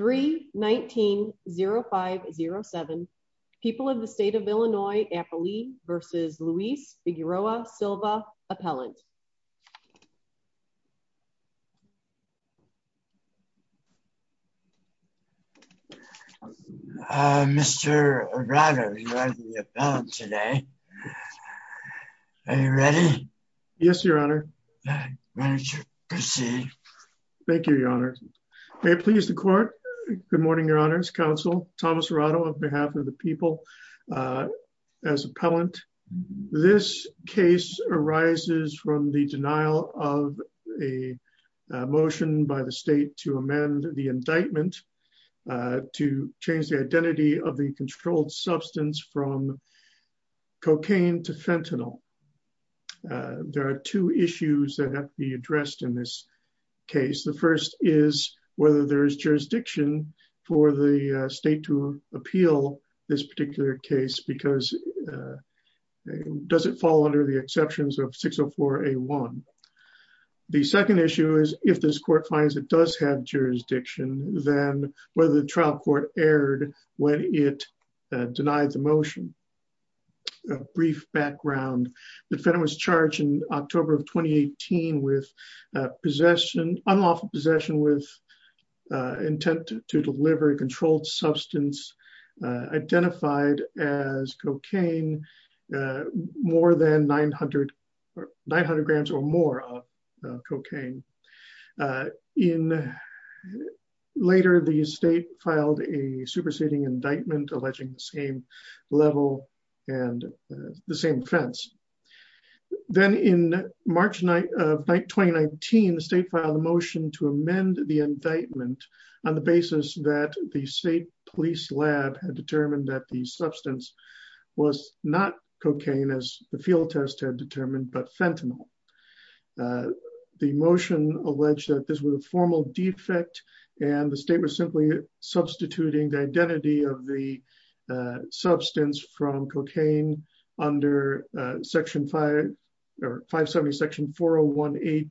319-0507. People of the state of Illinois, Appley v. Luis Figueroa Silva, Appellant. Mr. Arado, you are the appellant today. Are you ready? Yes, Your Honor. Why don't you proceed? Thank you, Your Honor. May it please the court. Good morning, Your Honors. Counsel Thomas Arado on behalf of the people. As appellant, this case arises from the denial of a motion by the state to amend the indictment to change the identity of the controlled substance from cocaine to fentanyl. There are two issues that have to be addressed in this case. The first is whether there is jurisdiction for the state to appeal this particular case because does it fall under the exceptions of 604A1. The second issue is if this court finds it does have jurisdiction, then whether the trial court erred when it denied the motion. A brief background, the defendant was charged in October of 2018 with possession, unlawful possession with intent to deliver a controlled substance identified as cocaine more than 900 grams or more of cocaine. And later the state filed a superseding indictment alleging the same level and the same offense. Then in March of 2019, the state filed a motion to amend the indictment on the basis that the state police lab had determined that the substance was not cocaine as the field test had determined, but fentanyl. The motion alleged that this was a formal defect and the state was simply substituting the identity of the substance from cocaine under section 5 or 570 section 401A2D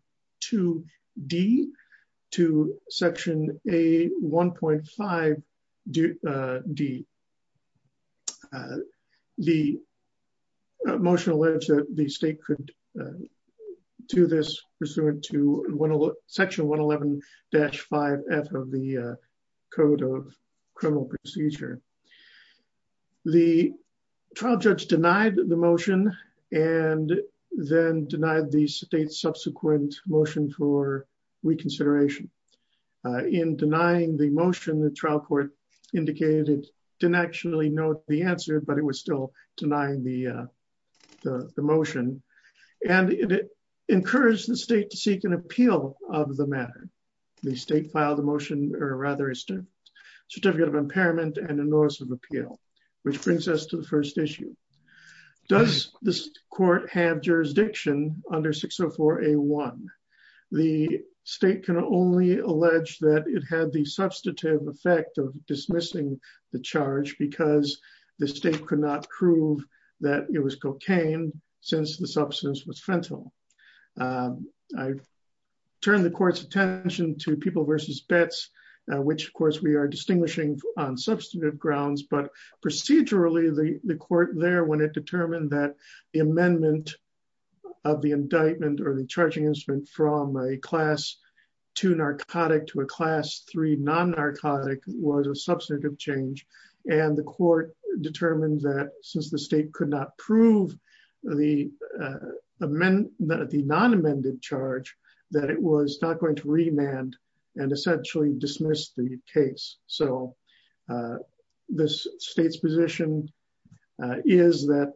to section A1.5D. The motion alleged that the state could do this pursuant to section 111-5F of the code of criminal procedure. The trial judge denied the motion and then denied the state's subsequent motion for reconsideration. In denying the motion, the trial court indicated it didn't actually note the answer, but it was still denying the motion. And it encouraged the state to seek an appeal of the matter. The state filed a motion or rather a certificate of impairment and a notice of appeal, which brings us to the first issue. Does this court have under 604A1? The state can only allege that it had the substantive effect of dismissing the charge because the state could not prove that it was cocaine since the substance was fentanyl. I turn the court's attention to people versus bets, which of course we are distinguishing on substantive grounds, but procedurally the court there when it determined that amendment of the indictment or the charging instrument from a class 2 narcotic to a class 3 non-narcotic was a substantive change. And the court determined that since the state could not prove the non-amended charge, that it was not going to remand and essentially dismiss the case. So the state's position is that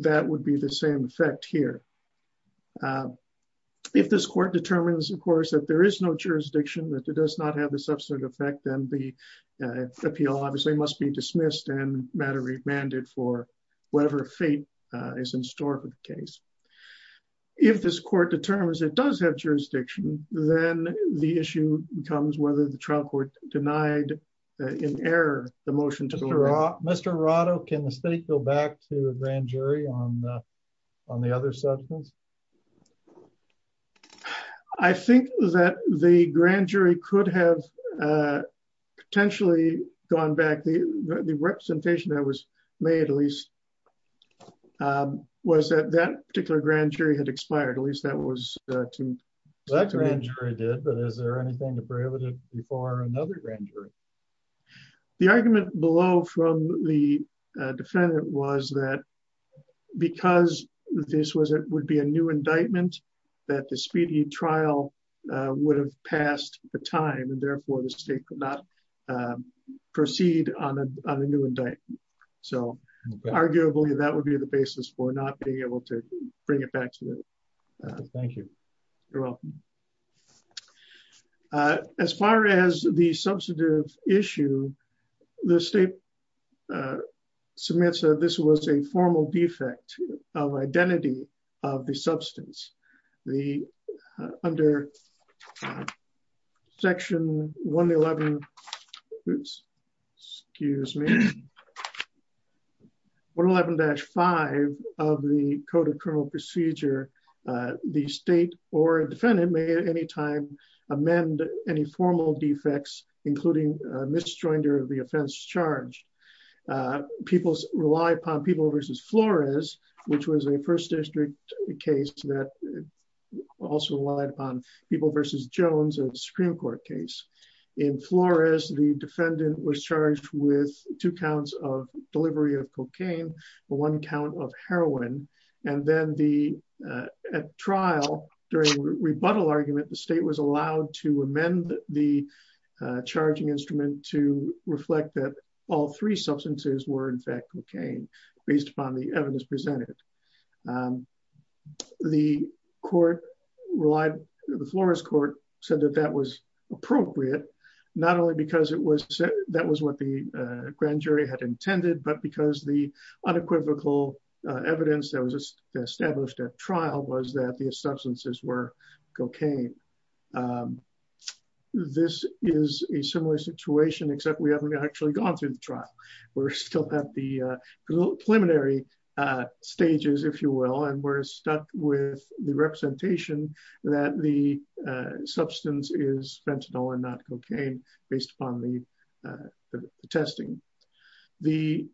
that would be the same effect here. If this court determines, of course, that there is no jurisdiction, that it does not have a substantive effect, then the appeal obviously must be dismissed and matter remanded for whatever fate is in store for the case. If this court determines it does have jurisdiction, then the issue becomes whether the trial court denied in error the motion to remove it. Mr. Arado, can the state go back to a grand jury on the other substance? I think that the grand jury could have potentially gone back. The representation that was made at least was that that particular grand jury had expired. At least that was true. That grand jury did, but is there anything to prohibit it before another grand jury? The argument below from the defendant was that because this would be a new indictment, that the speedy trial would have passed the time and therefore the state could not proceed on a new indictment. So arguably that would be the basis for not being able to bring it back to it. Thank you. You're welcome. As far as the substantive issue, the state submits that this was a formal defect of identity of the substance. Under Section 111-5 of the Code of Criminal Procedure, the state or defendant may at any time amend any formal defects, including a misjoinder of the offense charged. People rely upon people versus Flores, which was a first district case that also relied upon people versus Jones, a Supreme Court case. In Flores, the defendant was charged with two counts of delivery of cocaine, one count of heroin. And then at trial, during rebuttal argument, the state was allowed to amend the charging instrument to reflect that all three substances were in fact cocaine, based upon the evidence presented. The Flores court said that that was appropriate, not only because that was what the grand jury had intended, but because the unequivocal evidence that was established at trial was that the substances were cocaine. This is a similar situation, except we haven't actually gone through the trial. We're still at the preliminary stages, if you will, and we're stuck with the representation that the substance is fentanyl and not cocaine based upon the testing. The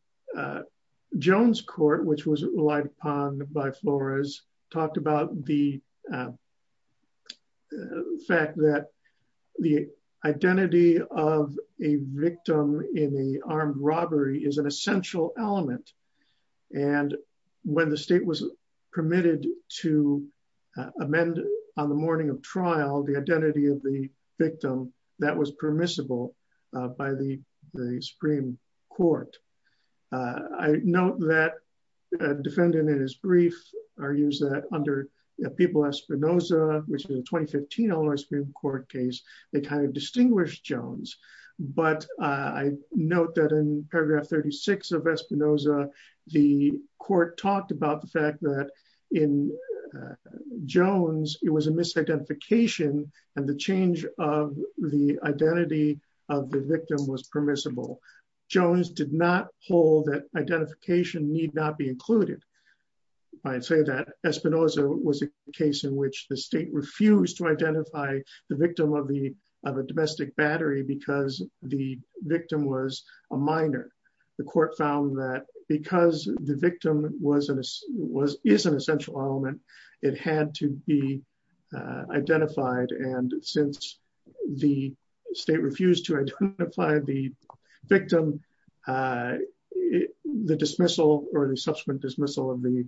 Jones court, which was relied upon by Flores, talked about the fact that the identity of a victim in the armed robbery is an essential element. And when the state was permitted to amend on the morning of trial, the identity of victim that was permissible by the Supreme Court. I note that a defendant in his brief argues that under People Espinosa, which is a 2015 Supreme Court case, they kind of distinguished Jones. But I note that in paragraph 36 of Espinosa, the court talked about the fact that in Jones, it was a misidentification and the change of the identity of the victim was permissible. Jones did not hold that identification need not be included. I'd say that Espinosa was a case in which the state refused to identify the victim of a domestic battery because the victim was a minor. The court found that because the victim is an essential element, it had to be identified. And since the state refused to identify the victim, the dismissal or the subsequent dismissal of the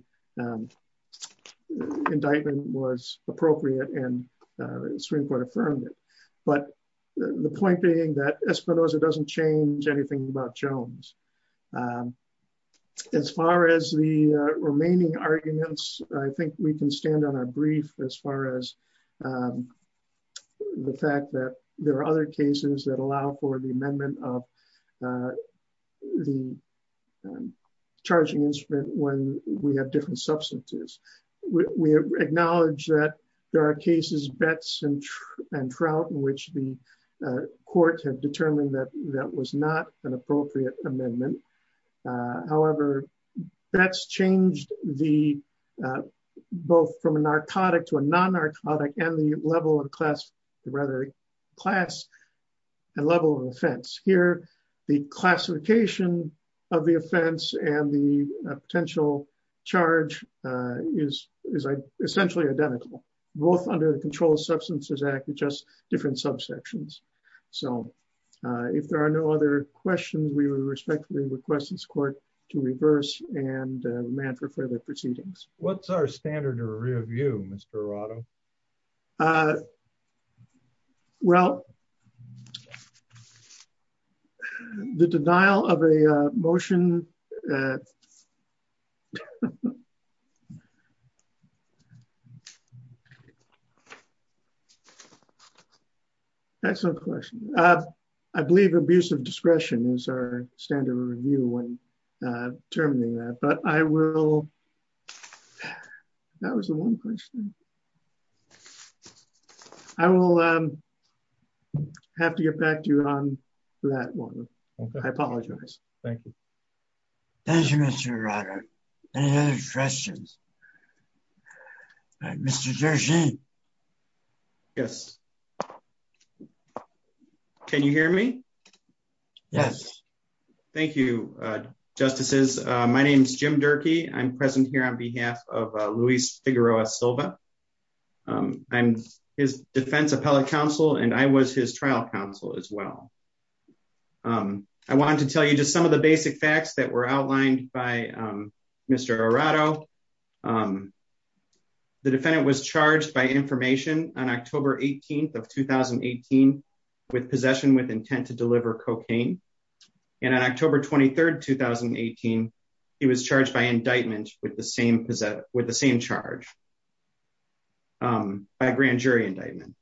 indictment was appropriate and Supreme Court affirmed it. But the point being that Espinosa doesn't change anything about Jones. As far as the remaining arguments, I think we can stand on our brief as far as the fact that there are other cases that allow for the amendment of the charging instrument when we have different substances. We acknowledge that there are cases, Betts and Trout, in which the court had determined that that was not an appropriate amendment. However, that's changed both from a narcotic to a non-narcotic and the level of class, rather class and level of offense. Here, the classification of the offense and the both under the Controlled Substances Act are just different subsections. So if there are no other questions, we would respectfully request this court to reverse and remand for further proceedings. What's our standard of review, Mr. Arado? Well, the denial of a motion is the standard of review. Excellent question. I believe abuse of discretion is our standard of review when determining that, but I will... That was the one question. I will have to get back to you on that one. I apologize. Thank you. Thank you, Mr. Arado. Any other questions? Mr. Durkee. Yes. Can you hear me? Yes. Thank you, Justices. My name is Jim Durkee. I'm present here on behalf of Luis Figueroa Silva. I'm his defense appellate counsel and I was his trial counsel as well. I wanted to tell you just some of the basic facts that were outlined by Mr. Arado. The defendant was charged by information on October 18th of 2018 with possession with intent to deliver cocaine. And on October 23rd, 2018, he was charged by indictment with the same charge, by grand jury indictment.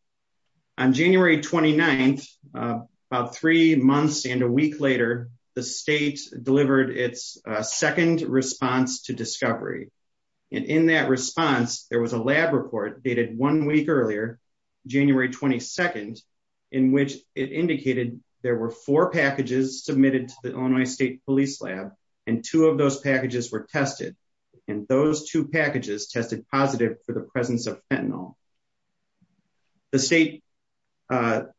On January 29th, about three months and a week later, the state delivered its second response to discovery. And in that response, there was a lab report dated one week earlier, January 22nd, in which it indicated there were four packages submitted to the Illinois State Police Lab, and two of those packages were tested. And those two for the presence of fentanyl. The state, well,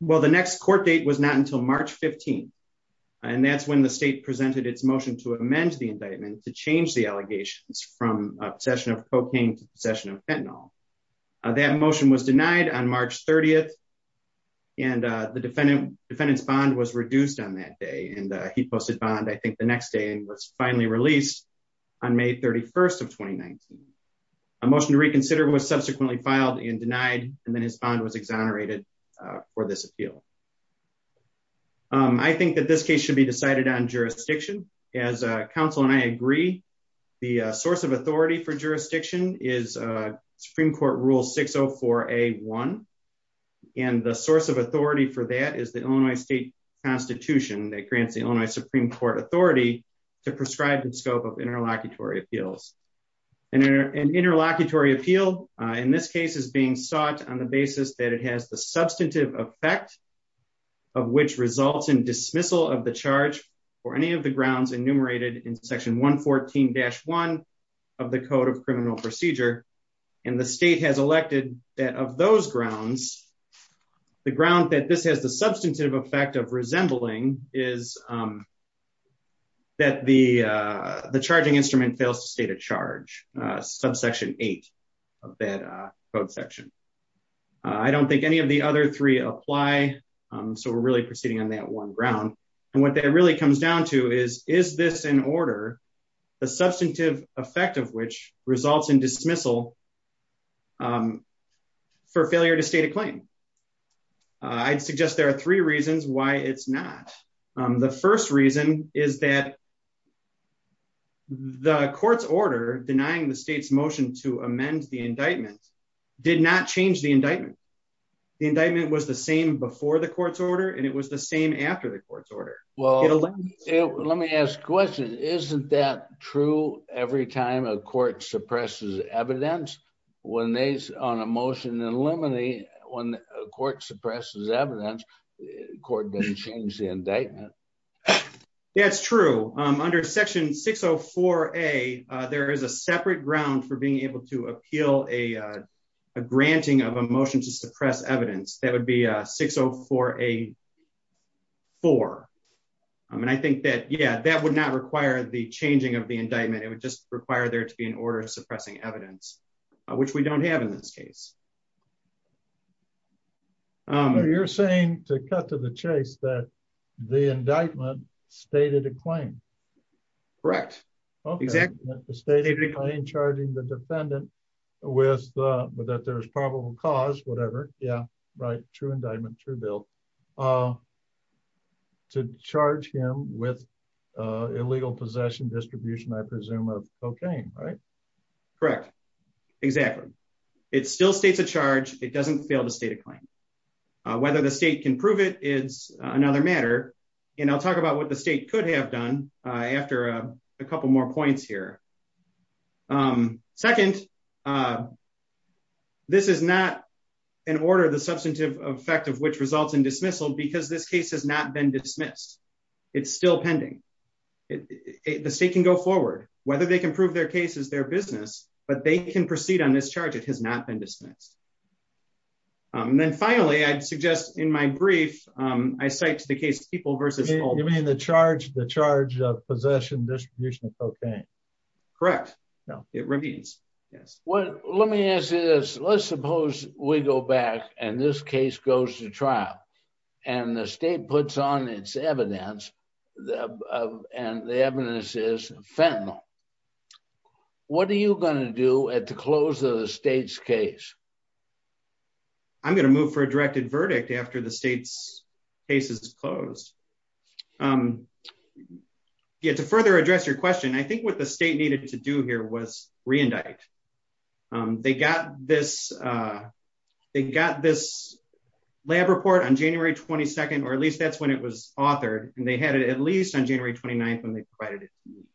the next court date was not until March 15th. And that's when the state presented its motion to amend the indictment to change the allegations from possession of cocaine to possession of fentanyl. That motion was denied on March 30th. And the defendant's bond was reduced on that day. And he posted bond, I think, next day and was finally released on May 31st of 2019. A motion to reconsider was subsequently filed and denied, and then his bond was exonerated for this appeal. I think that this case should be decided on jurisdiction. As counsel and I agree, the source of authority for jurisdiction is Supreme Court Rule 604A1. And the source of authority for that is the Illinois State Constitution that grants the Illinois Supreme Court authority to prescribe the scope of interlocutory appeals. An interlocutory appeal, in this case, is being sought on the basis that it has the substantive effect of which results in dismissal of the charge for any of the grounds enumerated in Section 114-1 of the Code of Criminal Procedure. And the state has elected that of those grounds, the ground that this has the substantive effect of resembling is that the charging instrument fails to state a charge, subsection eight of that code section. I don't think any of the other three apply. So we're really proceeding on that one ground. And what that really comes down to is, is this in order, the substantive effect of which results in for failure to state a claim. I'd suggest there are three reasons why it's not. The first reason is that the court's order denying the state's motion to amend the indictment did not change the indictment. The indictment was the same before the court's order and it was the same after the court's order. Well, let me ask a question. Isn't that true every time a court suppresses evidence when they, on a motion in limine, when a court suppresses evidence, the court doesn't change the indictment? That's true. Under Section 604-A, there is a separate ground for being able to appeal a granting of a motion to suppress evidence. That would be a 604-A-4. And I think that, yeah, that would not require the changing of the indictment. It would just require there to be suppressing evidence, which we don't have in this case. You're saying, to cut to the chase, that the indictment stated a claim? Correct. Exactly. The stated claim charging the defendant with, that there's probable cause, whatever, yeah, right, true indictment, true bill, to charge him with illegal possession, distribution, I presume, right? Correct. Exactly. It still states a charge. It doesn't fail to state a claim. Whether the state can prove it is another matter. And I'll talk about what the state could have done after a couple more points here. Second, this is not in order of the substantive effect of which results in dismissal because this case has not been dismissed. It's still pending. The state can go forward. Whether they can prove their case is their business, but they can proceed on this charge. It has not been dismissed. And then finally, I'd suggest in my brief, I cite the case People v. Holden. You mean the charge of possession, distribution of cocaine? Correct. It remains, yes. Well, let me ask you this. Let's suppose we go back and this case goes to trial and the state puts on its evidence and the evidence is fentanyl. What are you going to do at the close of the state's case? I'm going to move for a directed verdict after the state's case is closed. To further address your question, I think what the state needed to do here was re-indict. They got this lab report on January 22nd, or at least that's when it was authored, and they had it at least on January 29th when they provided it to me.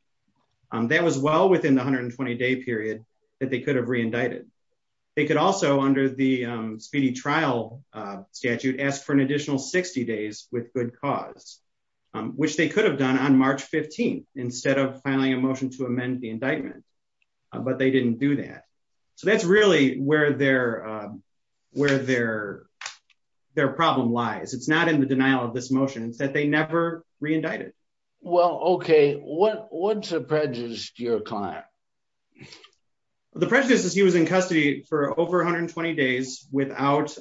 That was well within the 120-day period that they could have re-indicted. They could also, under the speedy trial statute, ask for an additional 60 days with good cause, which they could have done on March 15th instead of filing a motion to amend the indictment. But they didn't do that. So that's really where their problem lies. It's not in the denial of this motion. It's that they never re-indicted. Well, okay. What's the prejudice to your client? The prejudice is he was in custody for over 120 days without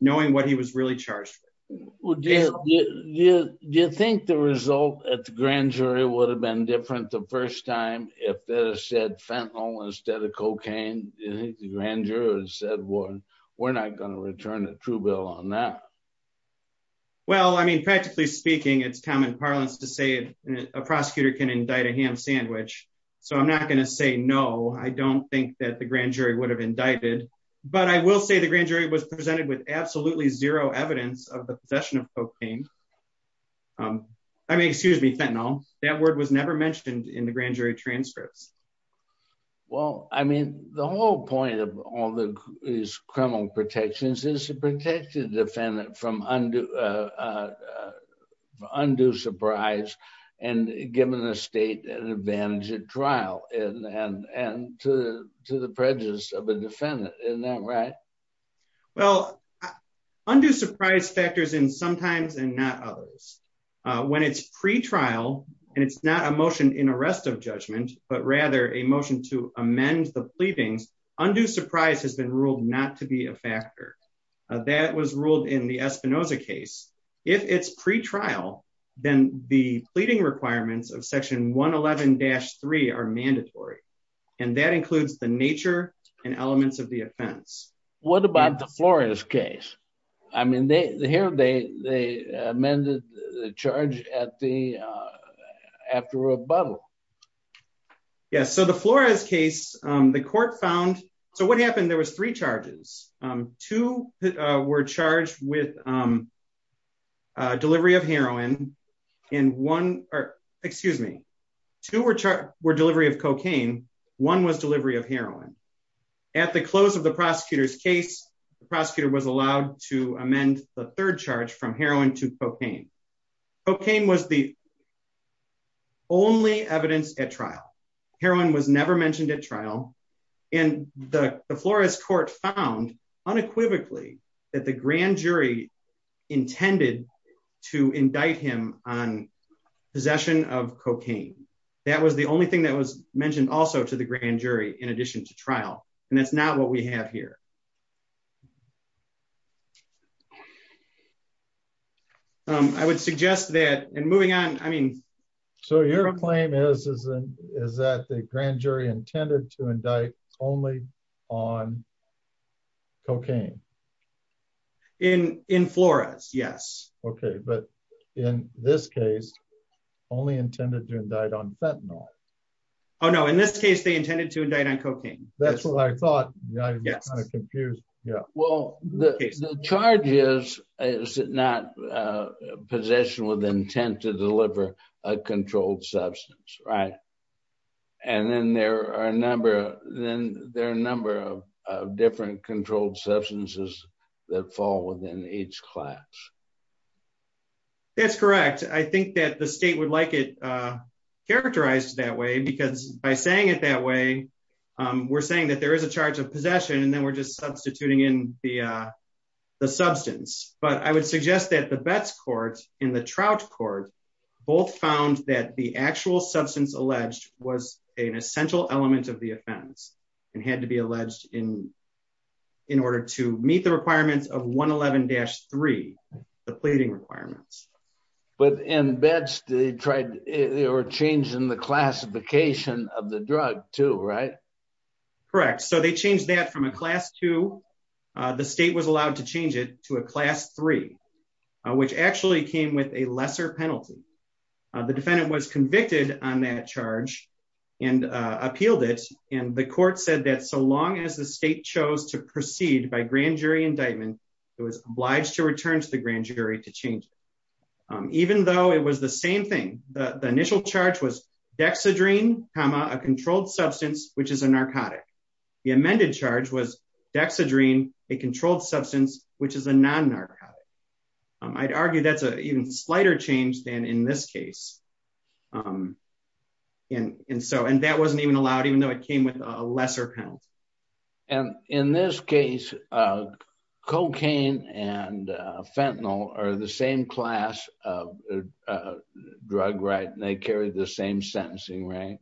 knowing what he was really charged. Do you think the result at the grand jury would have been different the first time if they had said fentanyl instead of cocaine? Do you think the grand jury would have said, we're not going to return a true bill on that? Well, practically speaking, it's common parlance to say a prosecutor can indict a ham sandwich. So I'm not going to say no. I don't think that the grand jury would have indicted. But I will say the grand jury was presented with absolutely zero evidence of the possession of transcripts. Well, I mean, the whole point of all these criminal protections is to protect the defendant from undue surprise and giving the state an advantage at trial and to the prejudice of a defendant. Isn't that right? Well, undue surprise factors in sometimes and not others. When it's pre-trial and it's not a motion in arrest of judgment, but rather a motion to amend the pleadings, undue surprise has been ruled not to be a factor. That was ruled in the Espinoza case. If it's pre-trial, then the pleading requirements of section 111-3 are mandatory. And that includes the nature and elements of the offense. What about the Flores case? I mean, here they amended the charge after rebuttal. Yes. So the Flores case, the court found... So what happened? There was three charges. Two were charged with delivery of heroin and one... Excuse me. Two were delivery of cocaine. One was delivery of heroin. At the close of the prosecutor's case, the prosecutor was allowed to amend the third charge from heroin to cocaine. Cocaine was the only evidence at trial. Heroin was never mentioned at trial. And the Flores court found unequivocally that the grand jury intended to indict him on cocaine. That was the only thing that was mentioned also to the grand jury in addition to trial. And that's not what we have here. I would suggest that... And moving on, I mean... So your claim is that the grand jury intended to indict only on fentanyl. Oh, no. In this case, they intended to indict on cocaine. That's what I thought. I'm kind of confused. Yeah. Well, the charge is, is it not possession with intent to deliver a controlled substance, right? And then there are a number of different controlled substances that fall within each class. That's correct. I think that the state would like it characterized that way, because by saying it that way, we're saying that there is a charge of possession, and then we're just substituting in the substance. But I would suggest that the Betz court and the Trout court both found that the actual substance alleged was an essential element of the offense and had to be alleged in order to the pleading requirements. But in Betz, they tried... They were changing the classification of the drug too, right? Correct. So they changed that from a class two. The state was allowed to change it to a class three, which actually came with a lesser penalty. The defendant was convicted on that charge and appealed it. And the court said that so long as the state chose to proceed by grand jury indictment, it was obliged to return to the grand jury to change it. Even though it was the same thing, the initial charge was dexedrine comma, a controlled substance, which is a narcotic. The amended charge was dexedrine, a controlled substance, which is a non-narcotic. I'd argue that's an even slighter change than in this case. And so, and that wasn't even allowed, even though it came with a lesser penalty. And in this case, cocaine and fentanyl are the same class of drug, right? And they carry the same sentencing range.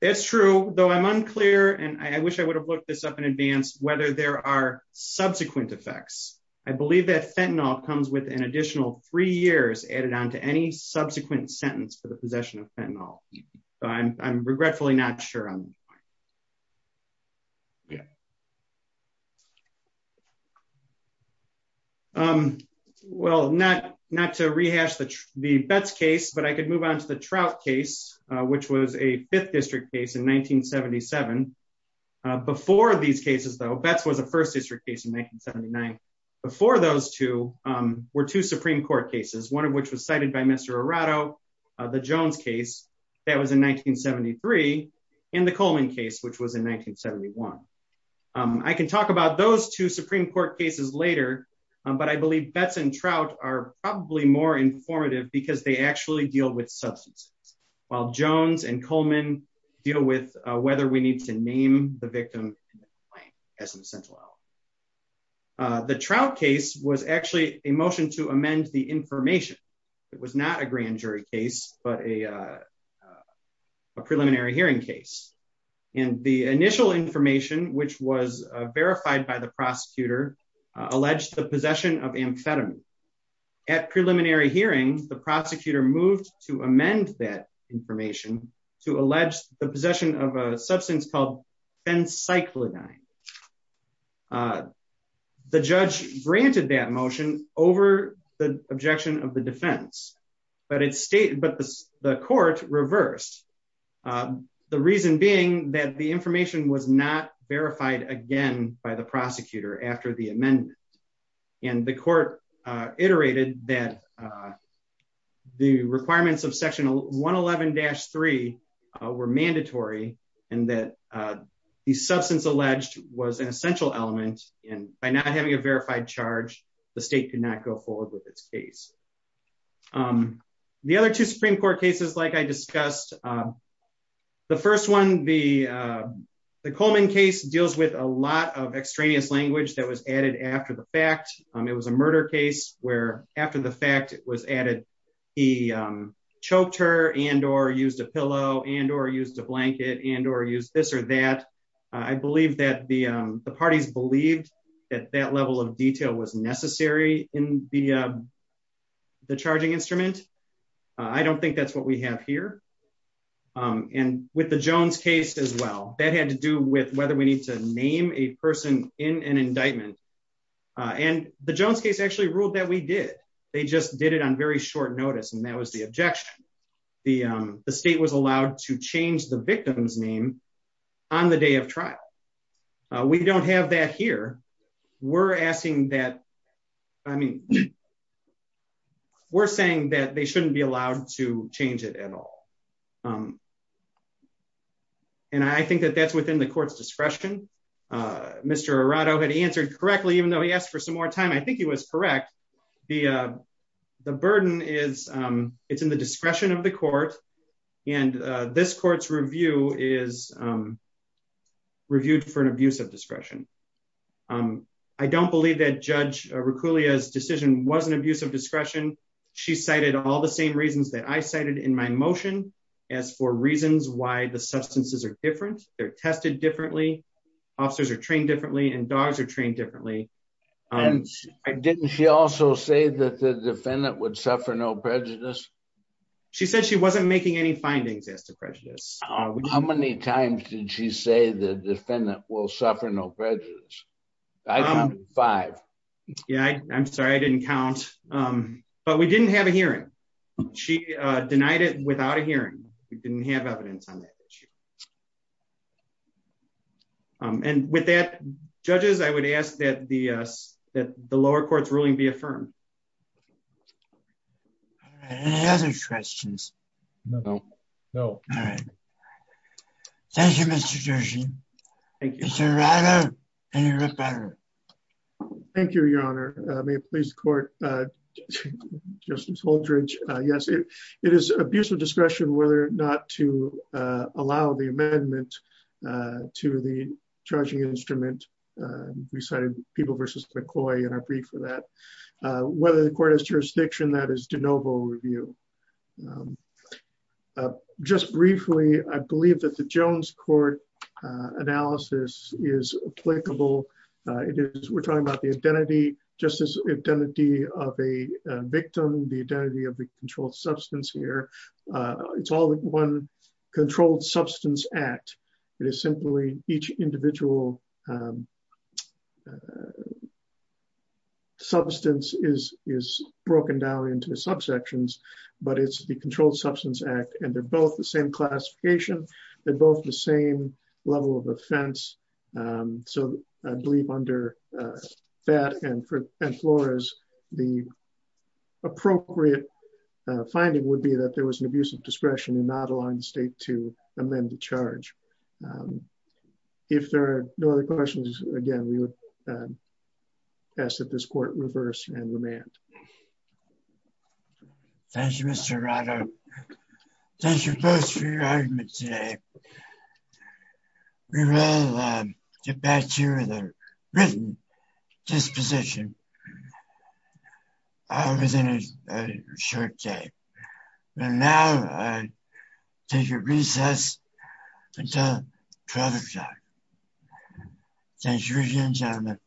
It's true, though I'm unclear, and I wish I would have looked this up in advance, whether there are subsequent effects. I believe that fentanyl comes with an additional three years added on to any subsequent sentence for the possession of fentanyl. I'm regretfully not sure. Yeah. Well, not to rehash the Betz case, but I could move on to the Trout case, which was a fifth district case in 1977. Before these cases, though, Betz was a first district case in 1979. Before those two were two Supreme Court cases, one of which was cited by Mr. Arado, the Jones case that was in 1973, and the Coleman case, which was in 1971. I can talk about those two Supreme Court cases later, but I believe Betz and Trout are probably more informative because they actually deal with substances, while Jones and Coleman deal with whether we need to name the victim as an essential element. The Trout case was actually a motion to but a preliminary hearing case. The initial information, which was verified by the prosecutor, alleged the possession of amphetamine. At preliminary hearing, the prosecutor moved to amend that information to allege the possession of a substance called fencyclidine. Okay. The judge granted that motion over the objection of the defense, but the court reversed, the reason being that the information was not verified again by the prosecutor after the amendment. And the court iterated that the requirements of section 111-3 were mandatory, and that the substance alleged was an essential element. And by not having a verified charge, the state could not go forward with its case. The other two Supreme Court cases, like I discussed, the first one, the Coleman case deals with a lot of extraneous language that was added after the fact. It was a murder case where after the fact it was added, he choked her and or used a pillow and or used a blanket and or use this or that. I believe that the parties believed that that level of detail was necessary in the charging instrument. I don't think that's what we have here. And with the Jones case as well, that had to do with whether we need to name a person in an indictment. And the Jones case actually ruled that we did. They just did it on very short notice. And that was the objection. The state was allowed to change the victim's name on the day of trial. We don't have that here. We're asking that. I mean, we're saying that they shouldn't be allowed to change it at all. And I think that that's within the court's discretion. Mr. Arado had answered correctly, though he asked for some more time. I think he was correct. The the burden is it's in the discretion of the court. And this court's review is reviewed for an abuse of discretion. I don't believe that Judge Rucculia's decision was an abuse of discretion. She cited all the same reasons that I cited in my motion as for reasons why the substances are different. They're tested differently. Officers are trained differently and dogs are trained differently. And didn't she also say that the defendant would suffer no prejudice? She said she wasn't making any findings as to prejudice. How many times did she say the defendant will suffer no prejudice? I counted five. Yeah, I'm sorry I didn't count. But we didn't have a hearing. She denied it without a hearing. We didn't have evidence on that issue. Um, and with that, judges, I would ask that the that the lower court's ruling be affirmed. Any other questions? No, no. All right. Thank you, Mr. Jersey. Thank you, Mr. Arado. Thank you, Your Honor. May it please the court. Uh, Justice Holdredge. Uh, yes, it it is abuse of discretion. The verdict is, uh, in the statute of the amendment, uh, to the charging instrument. Uh, we cited people versus McCoy in our brief for that, uh, whether the court is jurisdiction, that is DeNovo review. Um, uh, just briefly, I believe that the Jones court, uh, analysis is applicable. Uh, it is. We're talking about the identity justice, identity of a victim, the identity of the controlled substance here. Uh, it's all one controlled substance act. It is simply each individual, um, uh, substance is, is broken down into the subsections, but it's the controlled substance act. And they're both the same classification. They're both the same level of offense. Um, so I believe under, uh, that and for employers, the appropriate, uh, finding would be that there was an abuse of discretion and not allowing the state to amend the charge. Um, if there are no other questions, again, we would, um, ask that this court reverse and remand. Thank you, Mr. Rado. Thank you both for your argument today. Okay. We will, um, get back to you with a written disposition. I was in a short day, but now I take a recess until 12 o'clock. Thank you again, gentlemen.